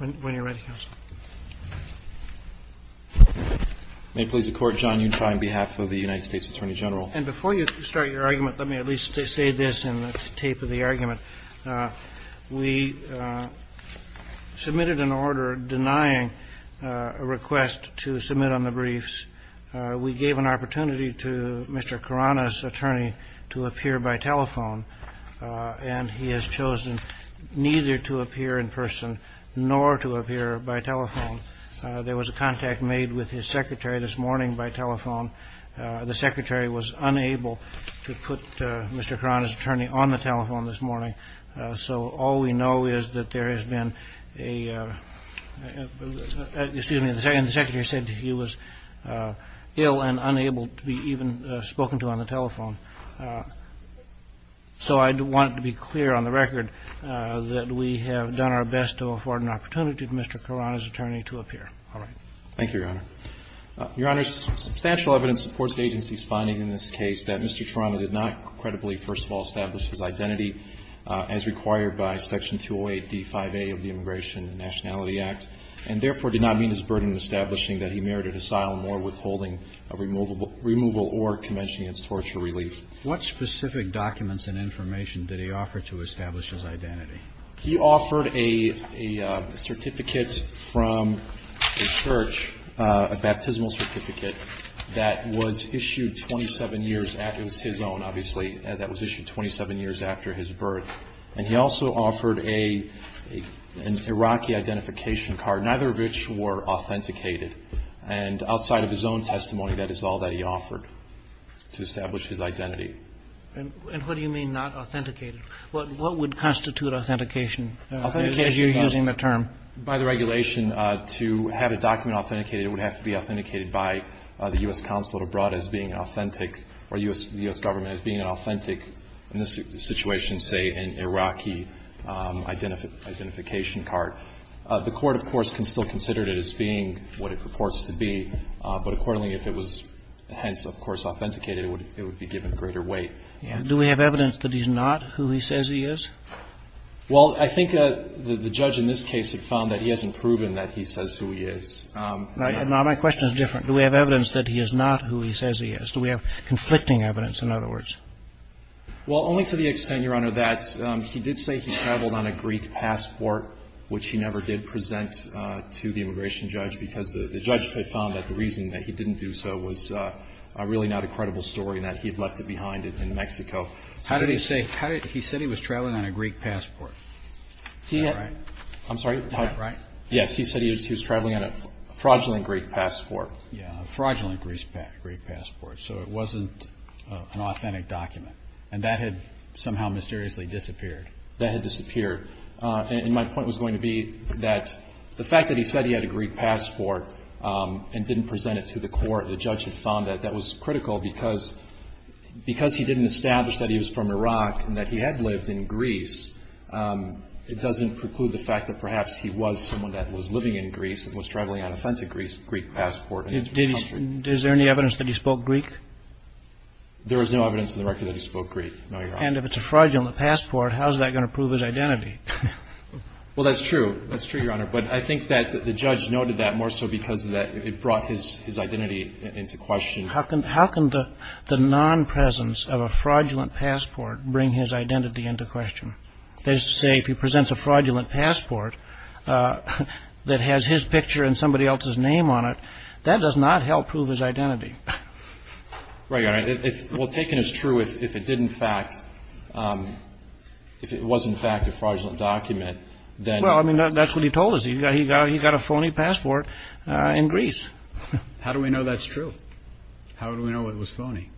May it please the Court, John Yunshai, on behalf of the United States Attorney General. And before you start your argument, let me at least say this in the tape of the argument. We submitted an order denying a request to submit on the briefs. We gave an opportunity to Mr. Karana's attorney to appear by telephone, and he has chosen neither to appear in person nor to appear by telephone. There was a contact made with his secretary this morning by telephone. The secretary was unable to put Mr. Karana's attorney on the telephone this morning, so all we know is that there has been a... excuse me, the secretary said he was ill and unable to be even spoken to on the telephone. So I want to be clear on the record that we have done our best to afford an opportunity to Mr. Karana's attorney to appear. All right. Thank you, Your Honor. Your Honor, substantial evidence supports the agency's finding in this case that Mr. Karana did not credibly, first of all, establish his identity as required by Section 208d5a of the Immigration and Nationality Act, and therefore did not meet his burden in establishing that he merited asylum or withholding removal or convention against torture relief. What specific documents and information did he offer to establish his identity? He offered a certificate from a church, a baptismal certificate that was issued 27 years after... it was his own, obviously, that was issued 27 years after his birth. And he also testified of his own testimony. That is all that he offered to establish his identity. And what do you mean not authenticated? What would constitute authentication as you're using the term? By the regulation, to have a document authenticated, it would have to be authenticated by the U.S. consulate abroad as being authentic or U.S. government as being authentic in this situation, say, an Iraqi identification card. The Court, of course, can still consider it as being what it purports to be. But accordingly, if it was, hence, of course, authenticated, it would be given greater weight. Do we have evidence that he's not who he says he is? Well, I think the judge in this case had found that he hasn't proven that he says who he is. Now, my question is different. Do we have evidence that he is not who he says he is? Do we have conflicting evidence, in other words? Well, only to the extent, Your Honor, that he did say he traveled on a Greek passport, which he never did present to the immigration judge because the judge had found that the reason that he didn't do so was really not a credible story and that he had left it behind in Mexico. How did he say he was traveling on a Greek passport? I'm sorry? Is that right? Yes. He said he was traveling on a fraudulent Greek passport. Yeah, a fraudulent Greek passport. So it wasn't an authentic document. And that had somehow mysteriously disappeared. That had disappeared. And my point was going to be that the fact that he said he had a Greek passport and didn't present it to the court, the judge had found that that was critical because he didn't establish that he was from Iraq and that he had lived in Greece, it doesn't preclude the fact that perhaps he was someone that was living in Greece and was traveling on an authentic Greek passport. Is there any evidence that he spoke Greek? There is no evidence in the record that he spoke Greek, no, Your Honor. And if it's a fraudulent passport, how is that going to prove his identity? Well, that's true. That's true, Your Honor. But I think that the judge noted that more so because it brought his identity into question. How can the non-presence of a fraudulent passport bring his identity into question? That is to say, if he presents a fraudulent passport that has his picture and somebody else's name on it, that does not help prove his identity. Right, Your Honor. Well, taken as true, if it did in fact — if it was in fact a fraudulent document, then — Well, I mean, that's what he told us. He got a phony passport in Greece. How do we know that's true? How do we know it was phony?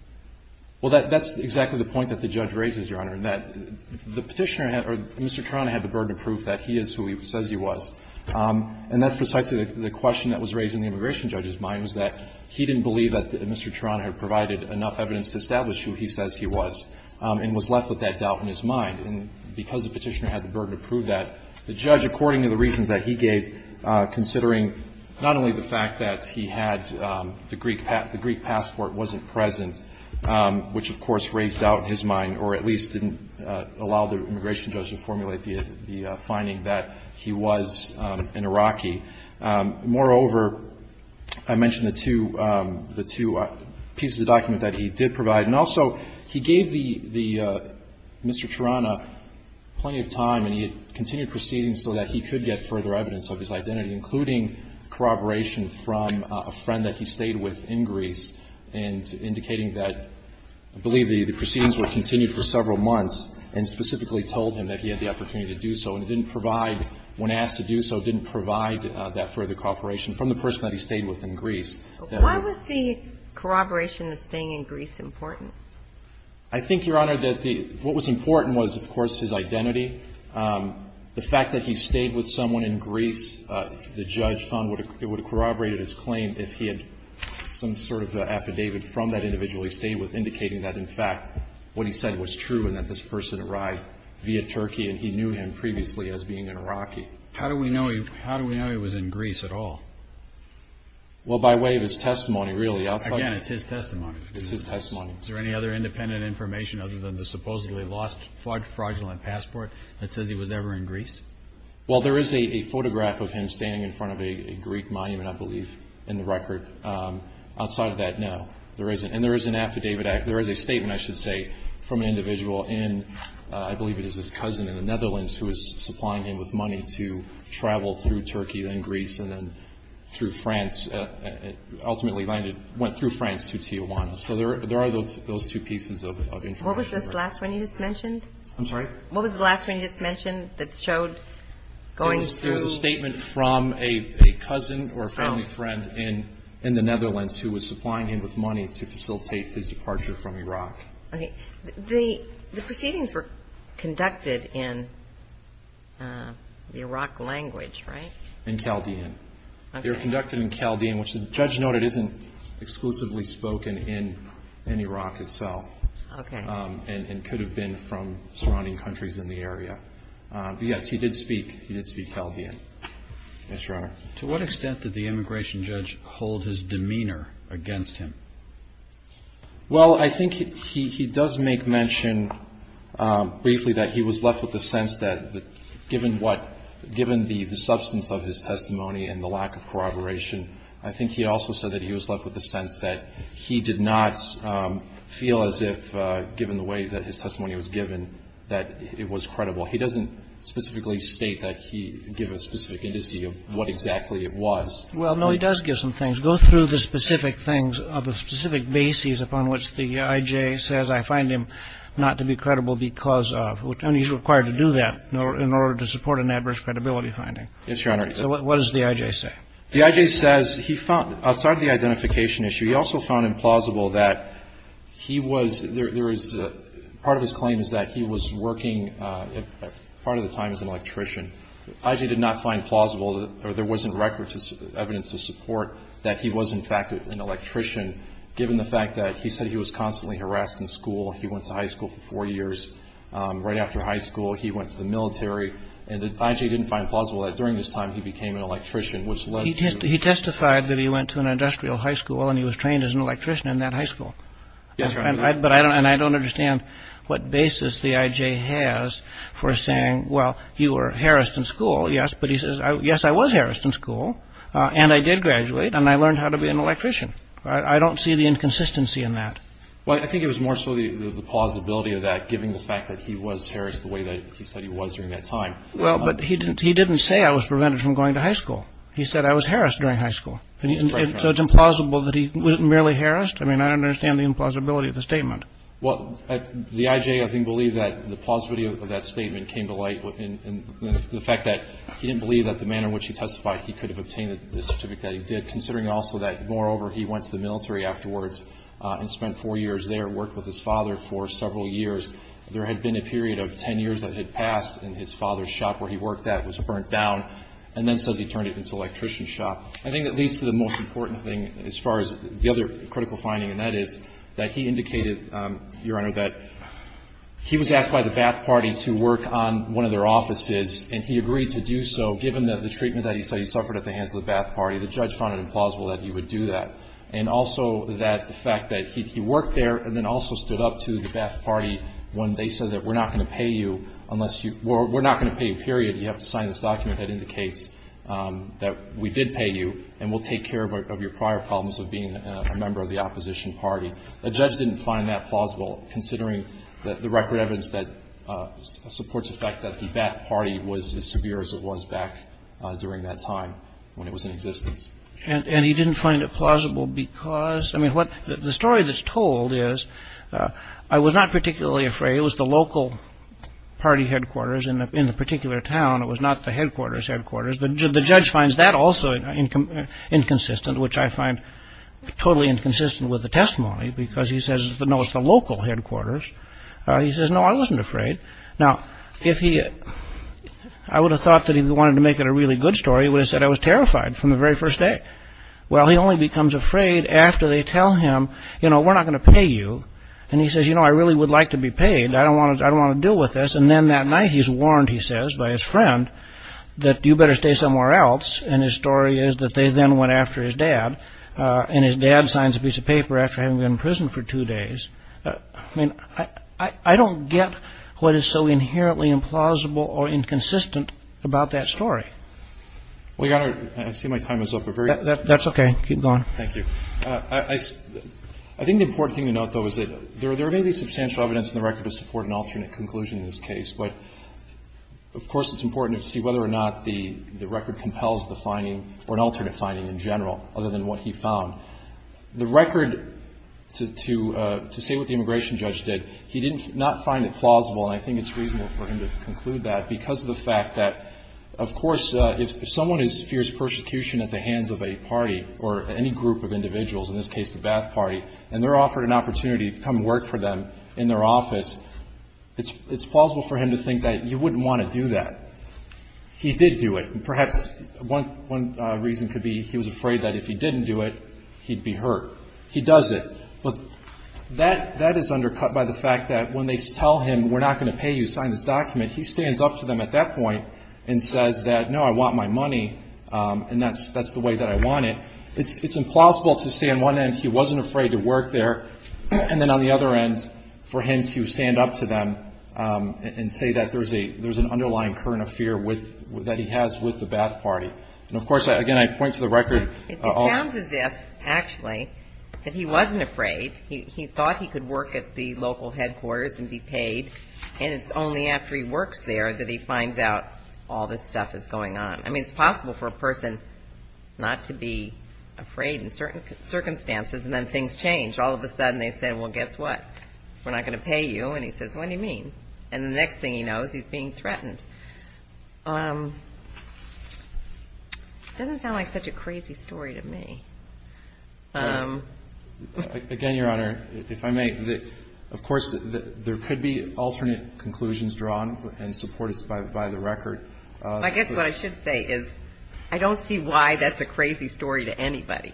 Well, that's exactly the point that the judge raises, Your Honor, that the Petitioner had — or Mr. Torano had the burden of proof that he is who he says he was. And that's precisely the question that was raised in the immigration judge's mind, was that he didn't believe that Mr. Torano had provided enough evidence to establish who he says he was, and was left with that doubt in his mind. And because the Petitioner had the burden to prove that, the judge, according to the reasons that he gave, considering not only the fact that he had the Greek — the Greek passport wasn't present, which, of course, raised doubt in his mind, or at least didn't allow the immigration judge to formulate the finding that he was an Iraqi. Moreover, I mentioned the two — the two pieces of document that he did provide. And also, he gave the — the — Mr. Torano plenty of time, and he had continued proceedings so that he could get further evidence of his identity, including corroboration from a friend that he stayed with in Greece, and indicating that — I believe the proceedings were continued for several months, and specifically told him that he had the opportunity to do so. And it didn't provide — when asked to do so, it didn't provide that further corroboration from the person that he stayed with in Greece. Why was the corroboration of staying in Greece important? I think, Your Honor, that the — what was important was, of course, his identity. The fact that he stayed with someone in Greece, the judge found it would have corroborated his claim if he had some sort of affidavit from that individual he stayed with indicating that, in fact, what he said was true, and that this person arrived via Turkey, and he knew him previously as being an Iraqi. How do we know he — how do we know he was in Greece at all? Well, by way of his testimony, really. Again, it's his testimony. It's his testimony. Is there any other independent information other than the supposedly lost fraudulent passport that says he was ever in Greece? Well, there is a photograph of him standing in front of a Greek monument, I believe, in the record. Outside of that, no. And there is an affidavit — there is a statement, I should say, from an individual in — I believe it is his cousin in the Netherlands who was supplying him with money to travel through Turkey, then Greece, and then through France, ultimately landed — went through France to Tijuana. So there are those two pieces of information. What was this last one you just mentioned? I'm sorry? What was the last one you just mentioned that showed going through — It was a statement from a cousin or a family friend in the Netherlands who was supplying him with money to facilitate his departure from Iraq. Okay. The proceedings were conducted in the Iraq language, right? In Chaldean. Okay. They were conducted in Chaldean, which the judge noted isn't exclusively spoken in Iraq itself. Okay. And could have been from surrounding countries in the area. But, yes, he did speak. He did speak Chaldean. Yes, Your Honor. To what extent did the immigration judge hold his demeanor against him? Well, I think he does make mention briefly that he was left with the sense that given what — given the substance of his testimony and the lack of corroboration, I think he also said that he was left with the sense that he did not feel as if, given the way that his testimony was given, that it was credible. He doesn't specifically state that he — give a specific indice of what exactly it was. Well, no, he does give some things. He does go through the specific things of the specific bases upon which the I.J. says, I find him not to be credible because of, and he's required to do that in order to support an adverse credibility finding. Yes, Your Honor. So what does the I.J. say? The I.J. says he found, outside of the identification issue, he also found implausible that he was — there is — part of his claim is that he was working, part of the time, as an electrician. I.J. did not find plausible, or there wasn't record evidence to support, that he was, in fact, an electrician, given the fact that he said he was constantly harassed in school. He went to high school for four years. Right after high school, he went to the military. And the I.J. didn't find plausible that during this time he became an electrician, which led to — He testified that he went to an industrial high school and he was trained as an electrician in that high school. Yes, Your Honor. But I don't — and I don't understand what basis the I.J. has for saying, well, you were harassed in school, yes. But he says, yes, I was harassed in school and I did graduate and I learned how to be an electrician. I don't see the inconsistency in that. Well, I think it was more so the plausibility of that, given the fact that he was harassed the way that he said he was during that time. Well, but he didn't — he didn't say I was prevented from going to high school. He said I was harassed during high school. So it's implausible that he — merely harassed? I mean, I don't understand the implausibility of the statement. Well, the I.J. I think believed that the plausibility of that statement came to light in the fact that he didn't believe that the manner in which he testified he could have obtained the certificate that he did, considering also that, moreover, he went to the military afterwards and spent four years there, worked with his father for several years. There had been a period of 10 years that had passed and his father's shop where he worked at was burnt down and then says he turned it into an electrician shop. I think that leads to the most important thing as far as the other critical finding, and that is that he indicated, Your Honor, that he was asked by the Bath Party to work on one of their offices and he agreed to do so, given the treatment that he said he suffered at the hands of the Bath Party. The judge found it implausible that he would do that. And also that the fact that he worked there and then also stood up to the Bath Party when they said that we're not going to pay you unless you — we're not going to pay you, period. You have to sign this document that indicates that we did pay you and we'll take care of your prior problems of being a member of the opposition party. The judge didn't find that plausible, considering the record evidence that supports the fact that the Bath Party was as severe as it was back during that time when it was in existence. And he didn't find it plausible because — I mean, what — the story that's told is — I was not particularly afraid. It was the local party headquarters in the particular town. It was not the headquarters' headquarters. The judge finds that also inconsistent, which I find totally inconsistent with the testimony because he says, no, it's the local headquarters. He says, no, I wasn't afraid. Now, if he — I would have thought that if he wanted to make it a really good story, he would have said I was terrified from the very first day. Well, he only becomes afraid after they tell him, you know, we're not going to pay you. And he says, you know, I really would like to be paid. I don't want to — I don't want to deal with this. And then that night he's warned, he says, by his friend, that you better stay somewhere else. And his story is that they then went after his dad. And his dad signs a piece of paper after having been in prison for two days. I mean, I don't get what is so inherently implausible or inconsistent about that story. Well, you got to — I see my time is up. That's OK. Keep going. Thank you. I think the important thing to note, though, is that there may be substantial evidence in the record to support an alternate conclusion in this case. But, of course, it's important to see whether or not the record compels the finding or an alternate finding in general, other than what he found. The record, to say what the immigration judge did, he did not find it plausible. And I think it's reasonable for him to conclude that because of the fact that, of course, if someone fears persecution at the hands of a party or any group of individuals, in this case the Ba'ath Party, and they're offered an opportunity to come work for them in their office, it's plausible for him to think that you wouldn't want to do that. He did do it. And perhaps one reason could be he was afraid that if he didn't do it, he'd be hurt. He does it. But that is undercut by the fact that when they tell him, we're not going to pay you, sign this document, he stands up to them at that point and says that, no, I want my money, and that's the way that I want it. It's implausible to say on one end he wasn't afraid to work there, and then on the other end for him to stand up to them and say that there's an underlying current of fear that he has with the Ba'ath Party. And, of course, again, I point to the record. It sounds as if, actually, that he wasn't afraid. He thought he could work at the local headquarters and be paid, and it's only after he works there that he finds out all this stuff is going on. I mean, it's possible for a person not to be afraid in certain circumstances, and then things change. All of a sudden they say, well, guess what? We're not going to pay you. And he says, what do you mean? And the next thing he knows, he's being threatened. It doesn't sound like such a crazy story to me. Again, Your Honor, if I may, of course there could be alternate conclusions drawn and supported by the record. I guess what I should say is I don't see why that's a crazy story to anybody.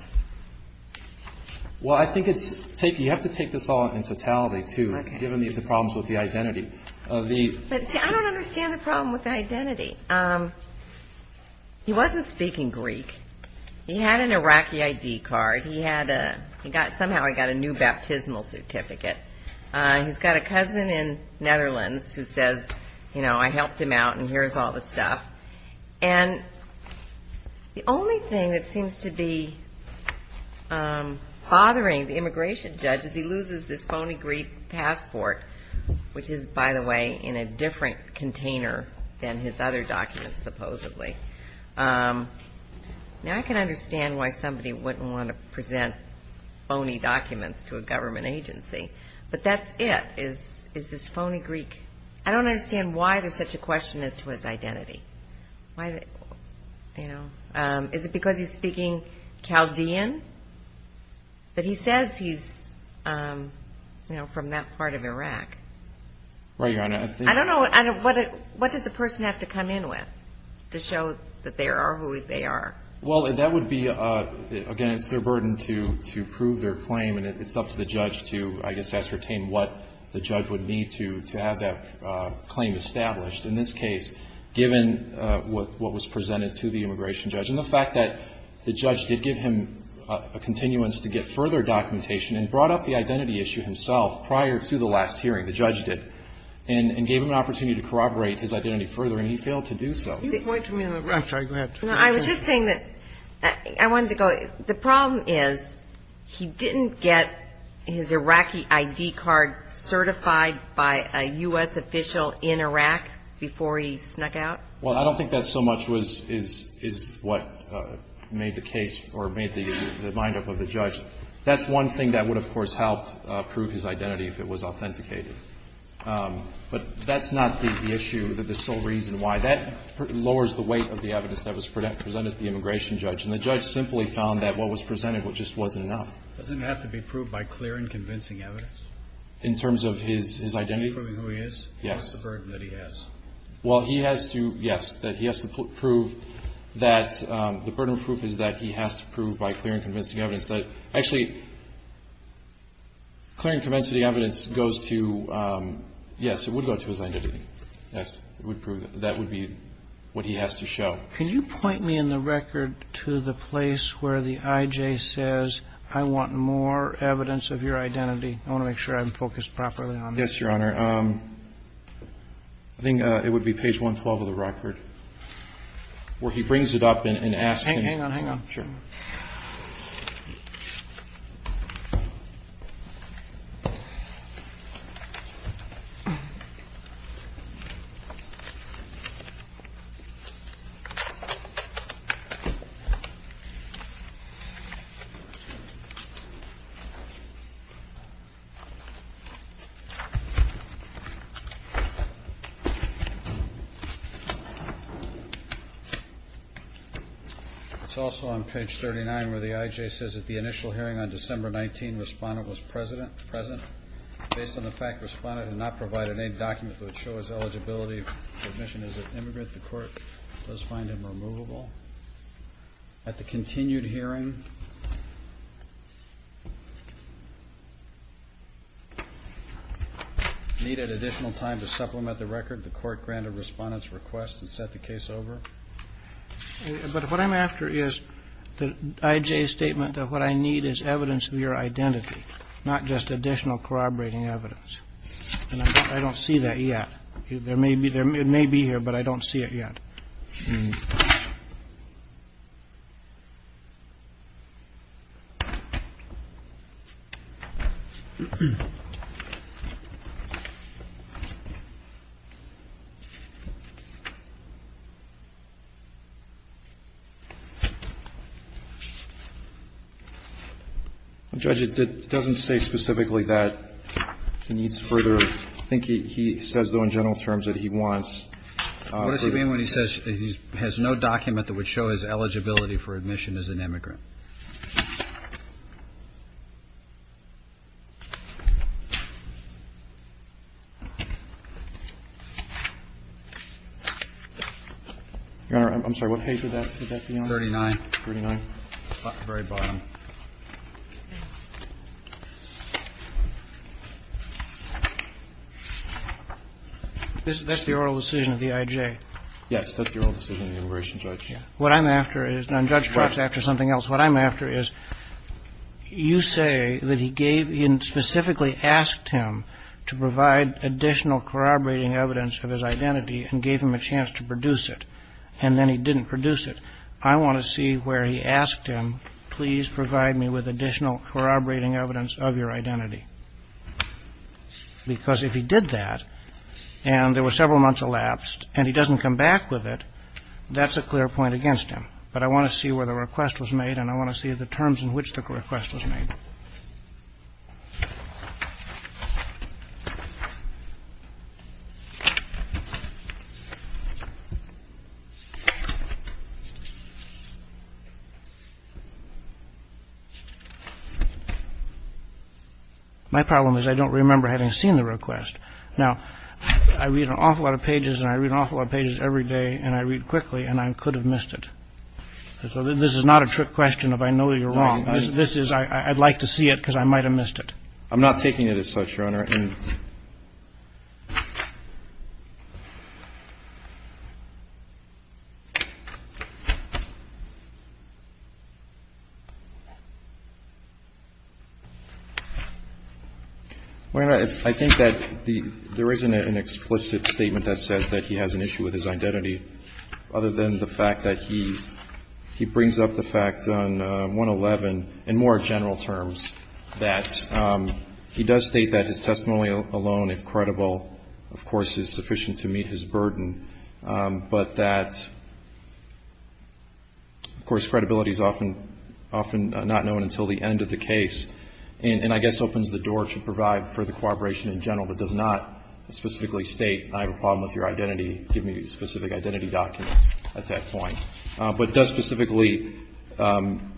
Well, I think you have to take this all in totality, too, given the problems with the identity. I don't understand the problem with the identity. He wasn't speaking Greek. He had an Iraqi ID card. Somehow he got a new baptismal certificate. He's got a cousin in Netherlands who says, you know, I helped him out and here's all the stuff. And the only thing that seems to be bothering the immigration judge is he loses this phony Greek passport, which is, by the way, in a different container than his other documents, supposedly. Now I can understand why somebody wouldn't want to present phony documents to a government agency, but that's it is this phony Greek. I don't understand why there's such a question as to his identity. Is it because he's speaking Chaldean? But he says he's from that part of Iraq. I don't know. What does a person have to come in with to show that they are who they are? Well, that would be, again, it's their burden to prove their claim, and it's up to the judge to, I guess, ascertain what the judge would need to have that claim established. In this case, given what was presented to the immigration judge and the fact that the judge did give him a continuance to get further documentation and brought up the identity issue himself prior to the last hearing, the judge did, and gave him an opportunity to corroborate his identity further, and he failed to do so. Can you point to me on the right? I'm sorry. Go ahead. No, I was just saying that I wanted to go. The problem is he didn't get his Iraqi ID card certified by a U.S. official in Iraq before he snuck out? Well, I don't think that so much is what made the case or made the mind up of the judge. That's one thing that would, of course, help prove his identity if it was authenticated. But that's not the issue, the sole reason why. That lowers the weight of the evidence that was presented to the immigration judge, and the judge simply found that what was presented just wasn't enough. Doesn't it have to be proved by clear and convincing evidence? In terms of his identity? To prove who he is? Yes. What's the burden that he has? Well, he has to, yes, that he has to prove that the burden of proof is that he has to prove by clear and convincing evidence that actually clear and convincing evidence goes to, yes, it would go to his identity. Yes, it would prove that. That would be what he has to show. Can you point me in the record to the place where the I.J. says I want more evidence of your identity? I want to make sure I'm focused properly on this. Yes, Your Honor. I think it would be page 112 of the record where he brings it up and asks him. Hang on, hang on. Sure. Okay. It's also on page 39 where the I.J. says, at the initial hearing on December 19, the respondent was present. Based on the fact the respondent had not provided any document that would show his eligibility for admission as an immigrant, the court does find him removable. At the continued hearing, needed additional time to supplement the record, the court granted respondent's request and set the case over. But what I'm after is the I.J.'s statement that what I need is evidence of your identity, not just additional corroborating evidence. And I don't see that yet. There may be here, but I don't see it yet. Judge, it doesn't say specifically that he needs further. I think he says, though, in general terms that he wants. What does he mean when he says he has no document that would show his eligibility for admission as an immigrant? Your Honor, I'm sorry. What page would that be on? Thirty-nine. Thirty-nine. The very bottom. That's the oral decision of the I.J. Yes. That's the oral decision of the immigration judge. What I'm after is the judge talks after something else. What I'm after is you say that he gave in specifically asked him to provide additional corroborating evidence of his identity and gave him a chance to produce it, and then he didn't produce it. Provide me with additional corroborating evidence of your identity, because if he did that and there were several months elapsed and he doesn't come back with it, that's a clear point against him. But I want to see where the request was made and I want to see the terms in which the request was made. My problem is I don't remember having seen the request. Now, I read an awful lot of pages and I read an awful lot of pages every day and I read quickly and I could have missed it. So this is not a trick question of I know you're wrong. This is I'd like to see it because I might have missed it. I'm not taking it as such, Your Honor. And I think that there isn't an explicit statement that says that he has an issue with his identity other than the fact that he I guess opens the door to provide further corroboration in general, but does not specifically state I have a problem with your identity, give me specific identity documents at that point. But does specifically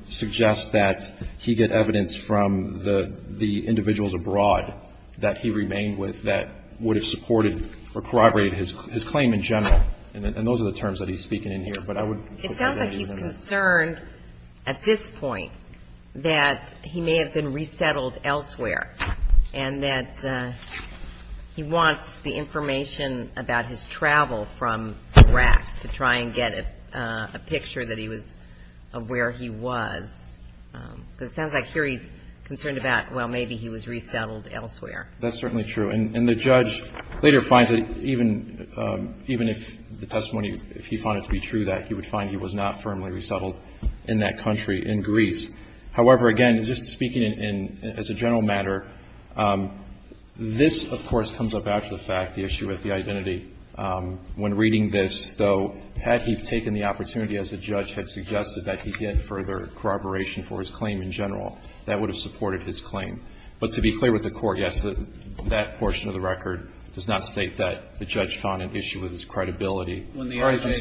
suggest that he get evidence from the individuals abroad that he remained with that would have supported or corroborated his claim in general. And those are the terms that he's speaking in here. But I would hope that that is enough. It sounds like he's concerned at this point that he may have been resettled elsewhere and that he wants the information about his travel from Iraq to try and get a picture that he was of where he was. Because it sounds like here he's concerned about, well, maybe he was resettled elsewhere. That's certainly true. And the judge later finds that even if the testimony, if he found it to be true, that he would find he was not firmly resettled in that country, in Greece. However, again, just speaking as a general matter, this, of course, comes up after the fact, the issue with the identity. When reading this, though, had he taken the opportunity, as the judge had suggested, that he get further corroboration for his claim in general, that would have supported his claim. But to be clear with the Court, yes, that portion of the record does not state that the judge found an issue with his credibility. When the I.J.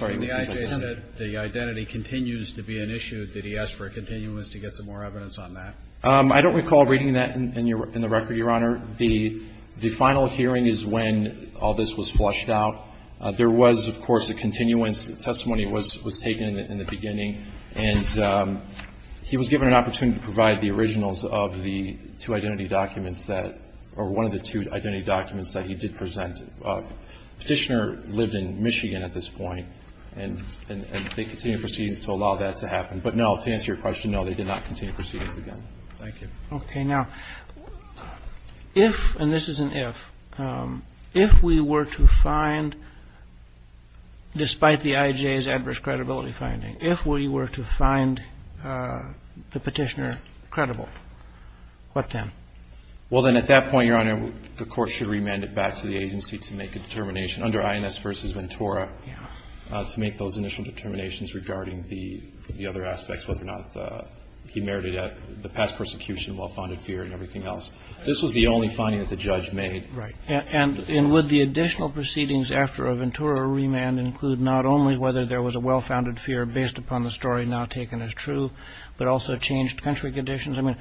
said the identity continues to be an issue, did he ask for a continuance to get some more evidence on that? I don't recall reading that in the record, Your Honor. The final hearing is when all this was flushed out. There was, of course, a continuance. The testimony was taken in the beginning. And he was given an opportunity to provide the originals of the two identity documents that or one of the two identity documents that he did present. Petitioner lived in Michigan at this point. And they continued proceedings to allow that to happen. But no, to answer your question, no, they did not continue proceedings again. Thank you. Okay. Now, if, and this is an if, if we were to find, despite the I.J.'s adverse credibility finding, if we were to find the Petitioner credible, what then? Well, then at that point, Your Honor, the Court should remand it back to the agency to make a determination under INS v. Ventura to make those initial determinations regarding the other aspects, whether or not he merited the past persecution, well-founded fear, and everything else. This was the only finding that the judge made. Right. And would the additional proceedings after a Ventura remand include not only whether there was a well-founded fear based upon the story now taken as true, but also changed country conditions? I mean,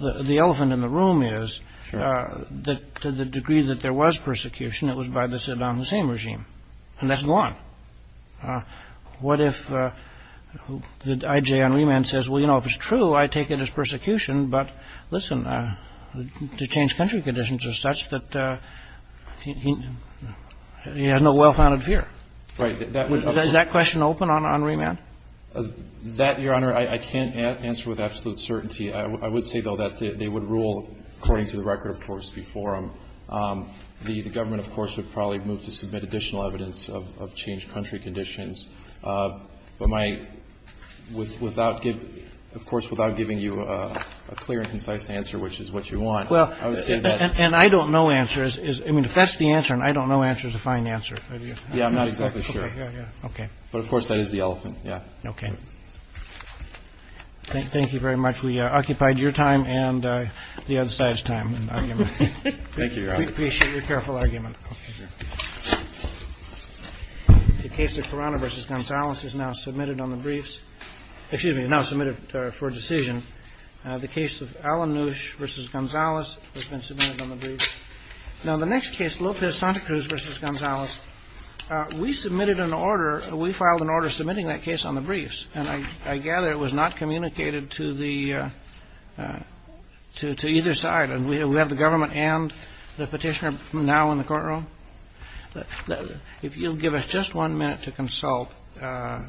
the elephant in the room is that to the degree that there was persecution, it was by the same regime, and that's gone. What if the I.J. on remand says, well, you know, if it's true, I take it as persecution, but listen, the changed country conditions are such that he has no well-founded fear. Right. Is that question open on remand? That, Your Honor, I can't answer with absolute certainty. I would say, though, that they would rule, according to the record, of course, before him. The government, of course, would probably move to submit additional evidence of changed country conditions. But my – without giving – of course, without giving you a clear and concise answer, which is what you want, I would say that – Well, and I don't know answers. I mean, if that's the answer and I don't know answers, a fine answer. Yeah, I'm not exactly sure. Okay. But, of course, that is the elephant. Yeah. Okay. Thank you very much. We occupied your time and the other side's time and argument. Thank you, Your Honor. We appreciate your careful argument. The case of Corona v. Gonzalez is now submitted on the briefs – excuse me, now submitted for decision. The case of Alan Nusch v. Gonzalez has been submitted on the briefs. Now, the next case, Lopez-Santacruz v. Gonzalez, we submitted an order – The next case on the briefs, and I gather it was not communicated to the – to either side. And we have the government and the Petitioner now in the courtroom. If you'll give us just one minute to consult,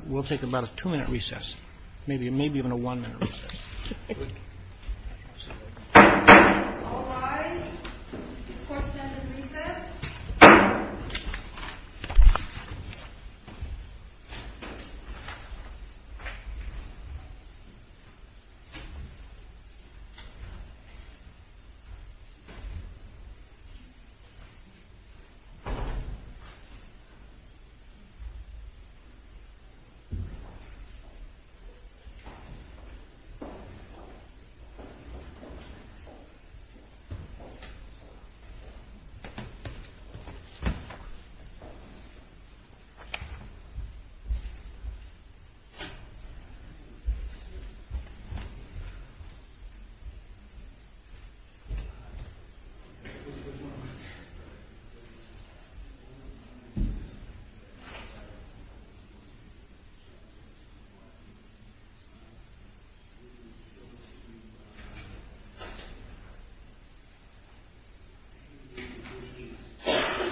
we'll take about a two-minute recess, maybe even a one-minute recess. All rise. This court stands at recess. Thank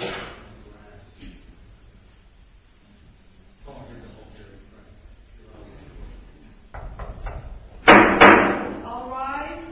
you. Thank you. All rise.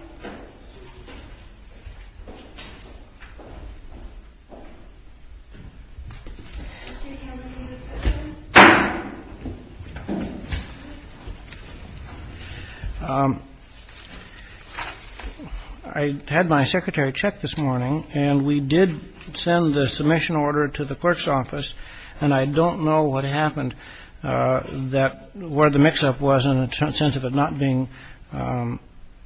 I had my secretary check this morning, and we did send the submission order to the clerk's office. And I don't know what happened that – where the mix-up was in the sense of it not being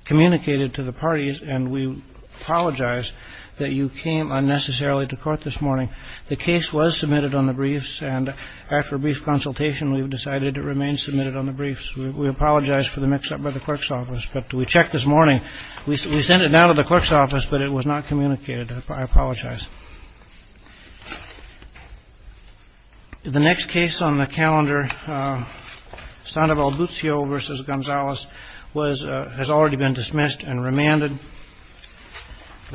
communicated to the parties. And we apologize that you came unnecessarily to court this morning. The case was submitted on the briefs, and after a brief consultation, we've decided it remains submitted on the briefs. We apologize for the mix-up by the clerk's office, but we checked this morning. We sent it down to the clerk's office, but it was not communicated. I apologize. The next case on the calendar, Sandoval Buzio v. Gonzalez, was – has already been dismissed and remanded.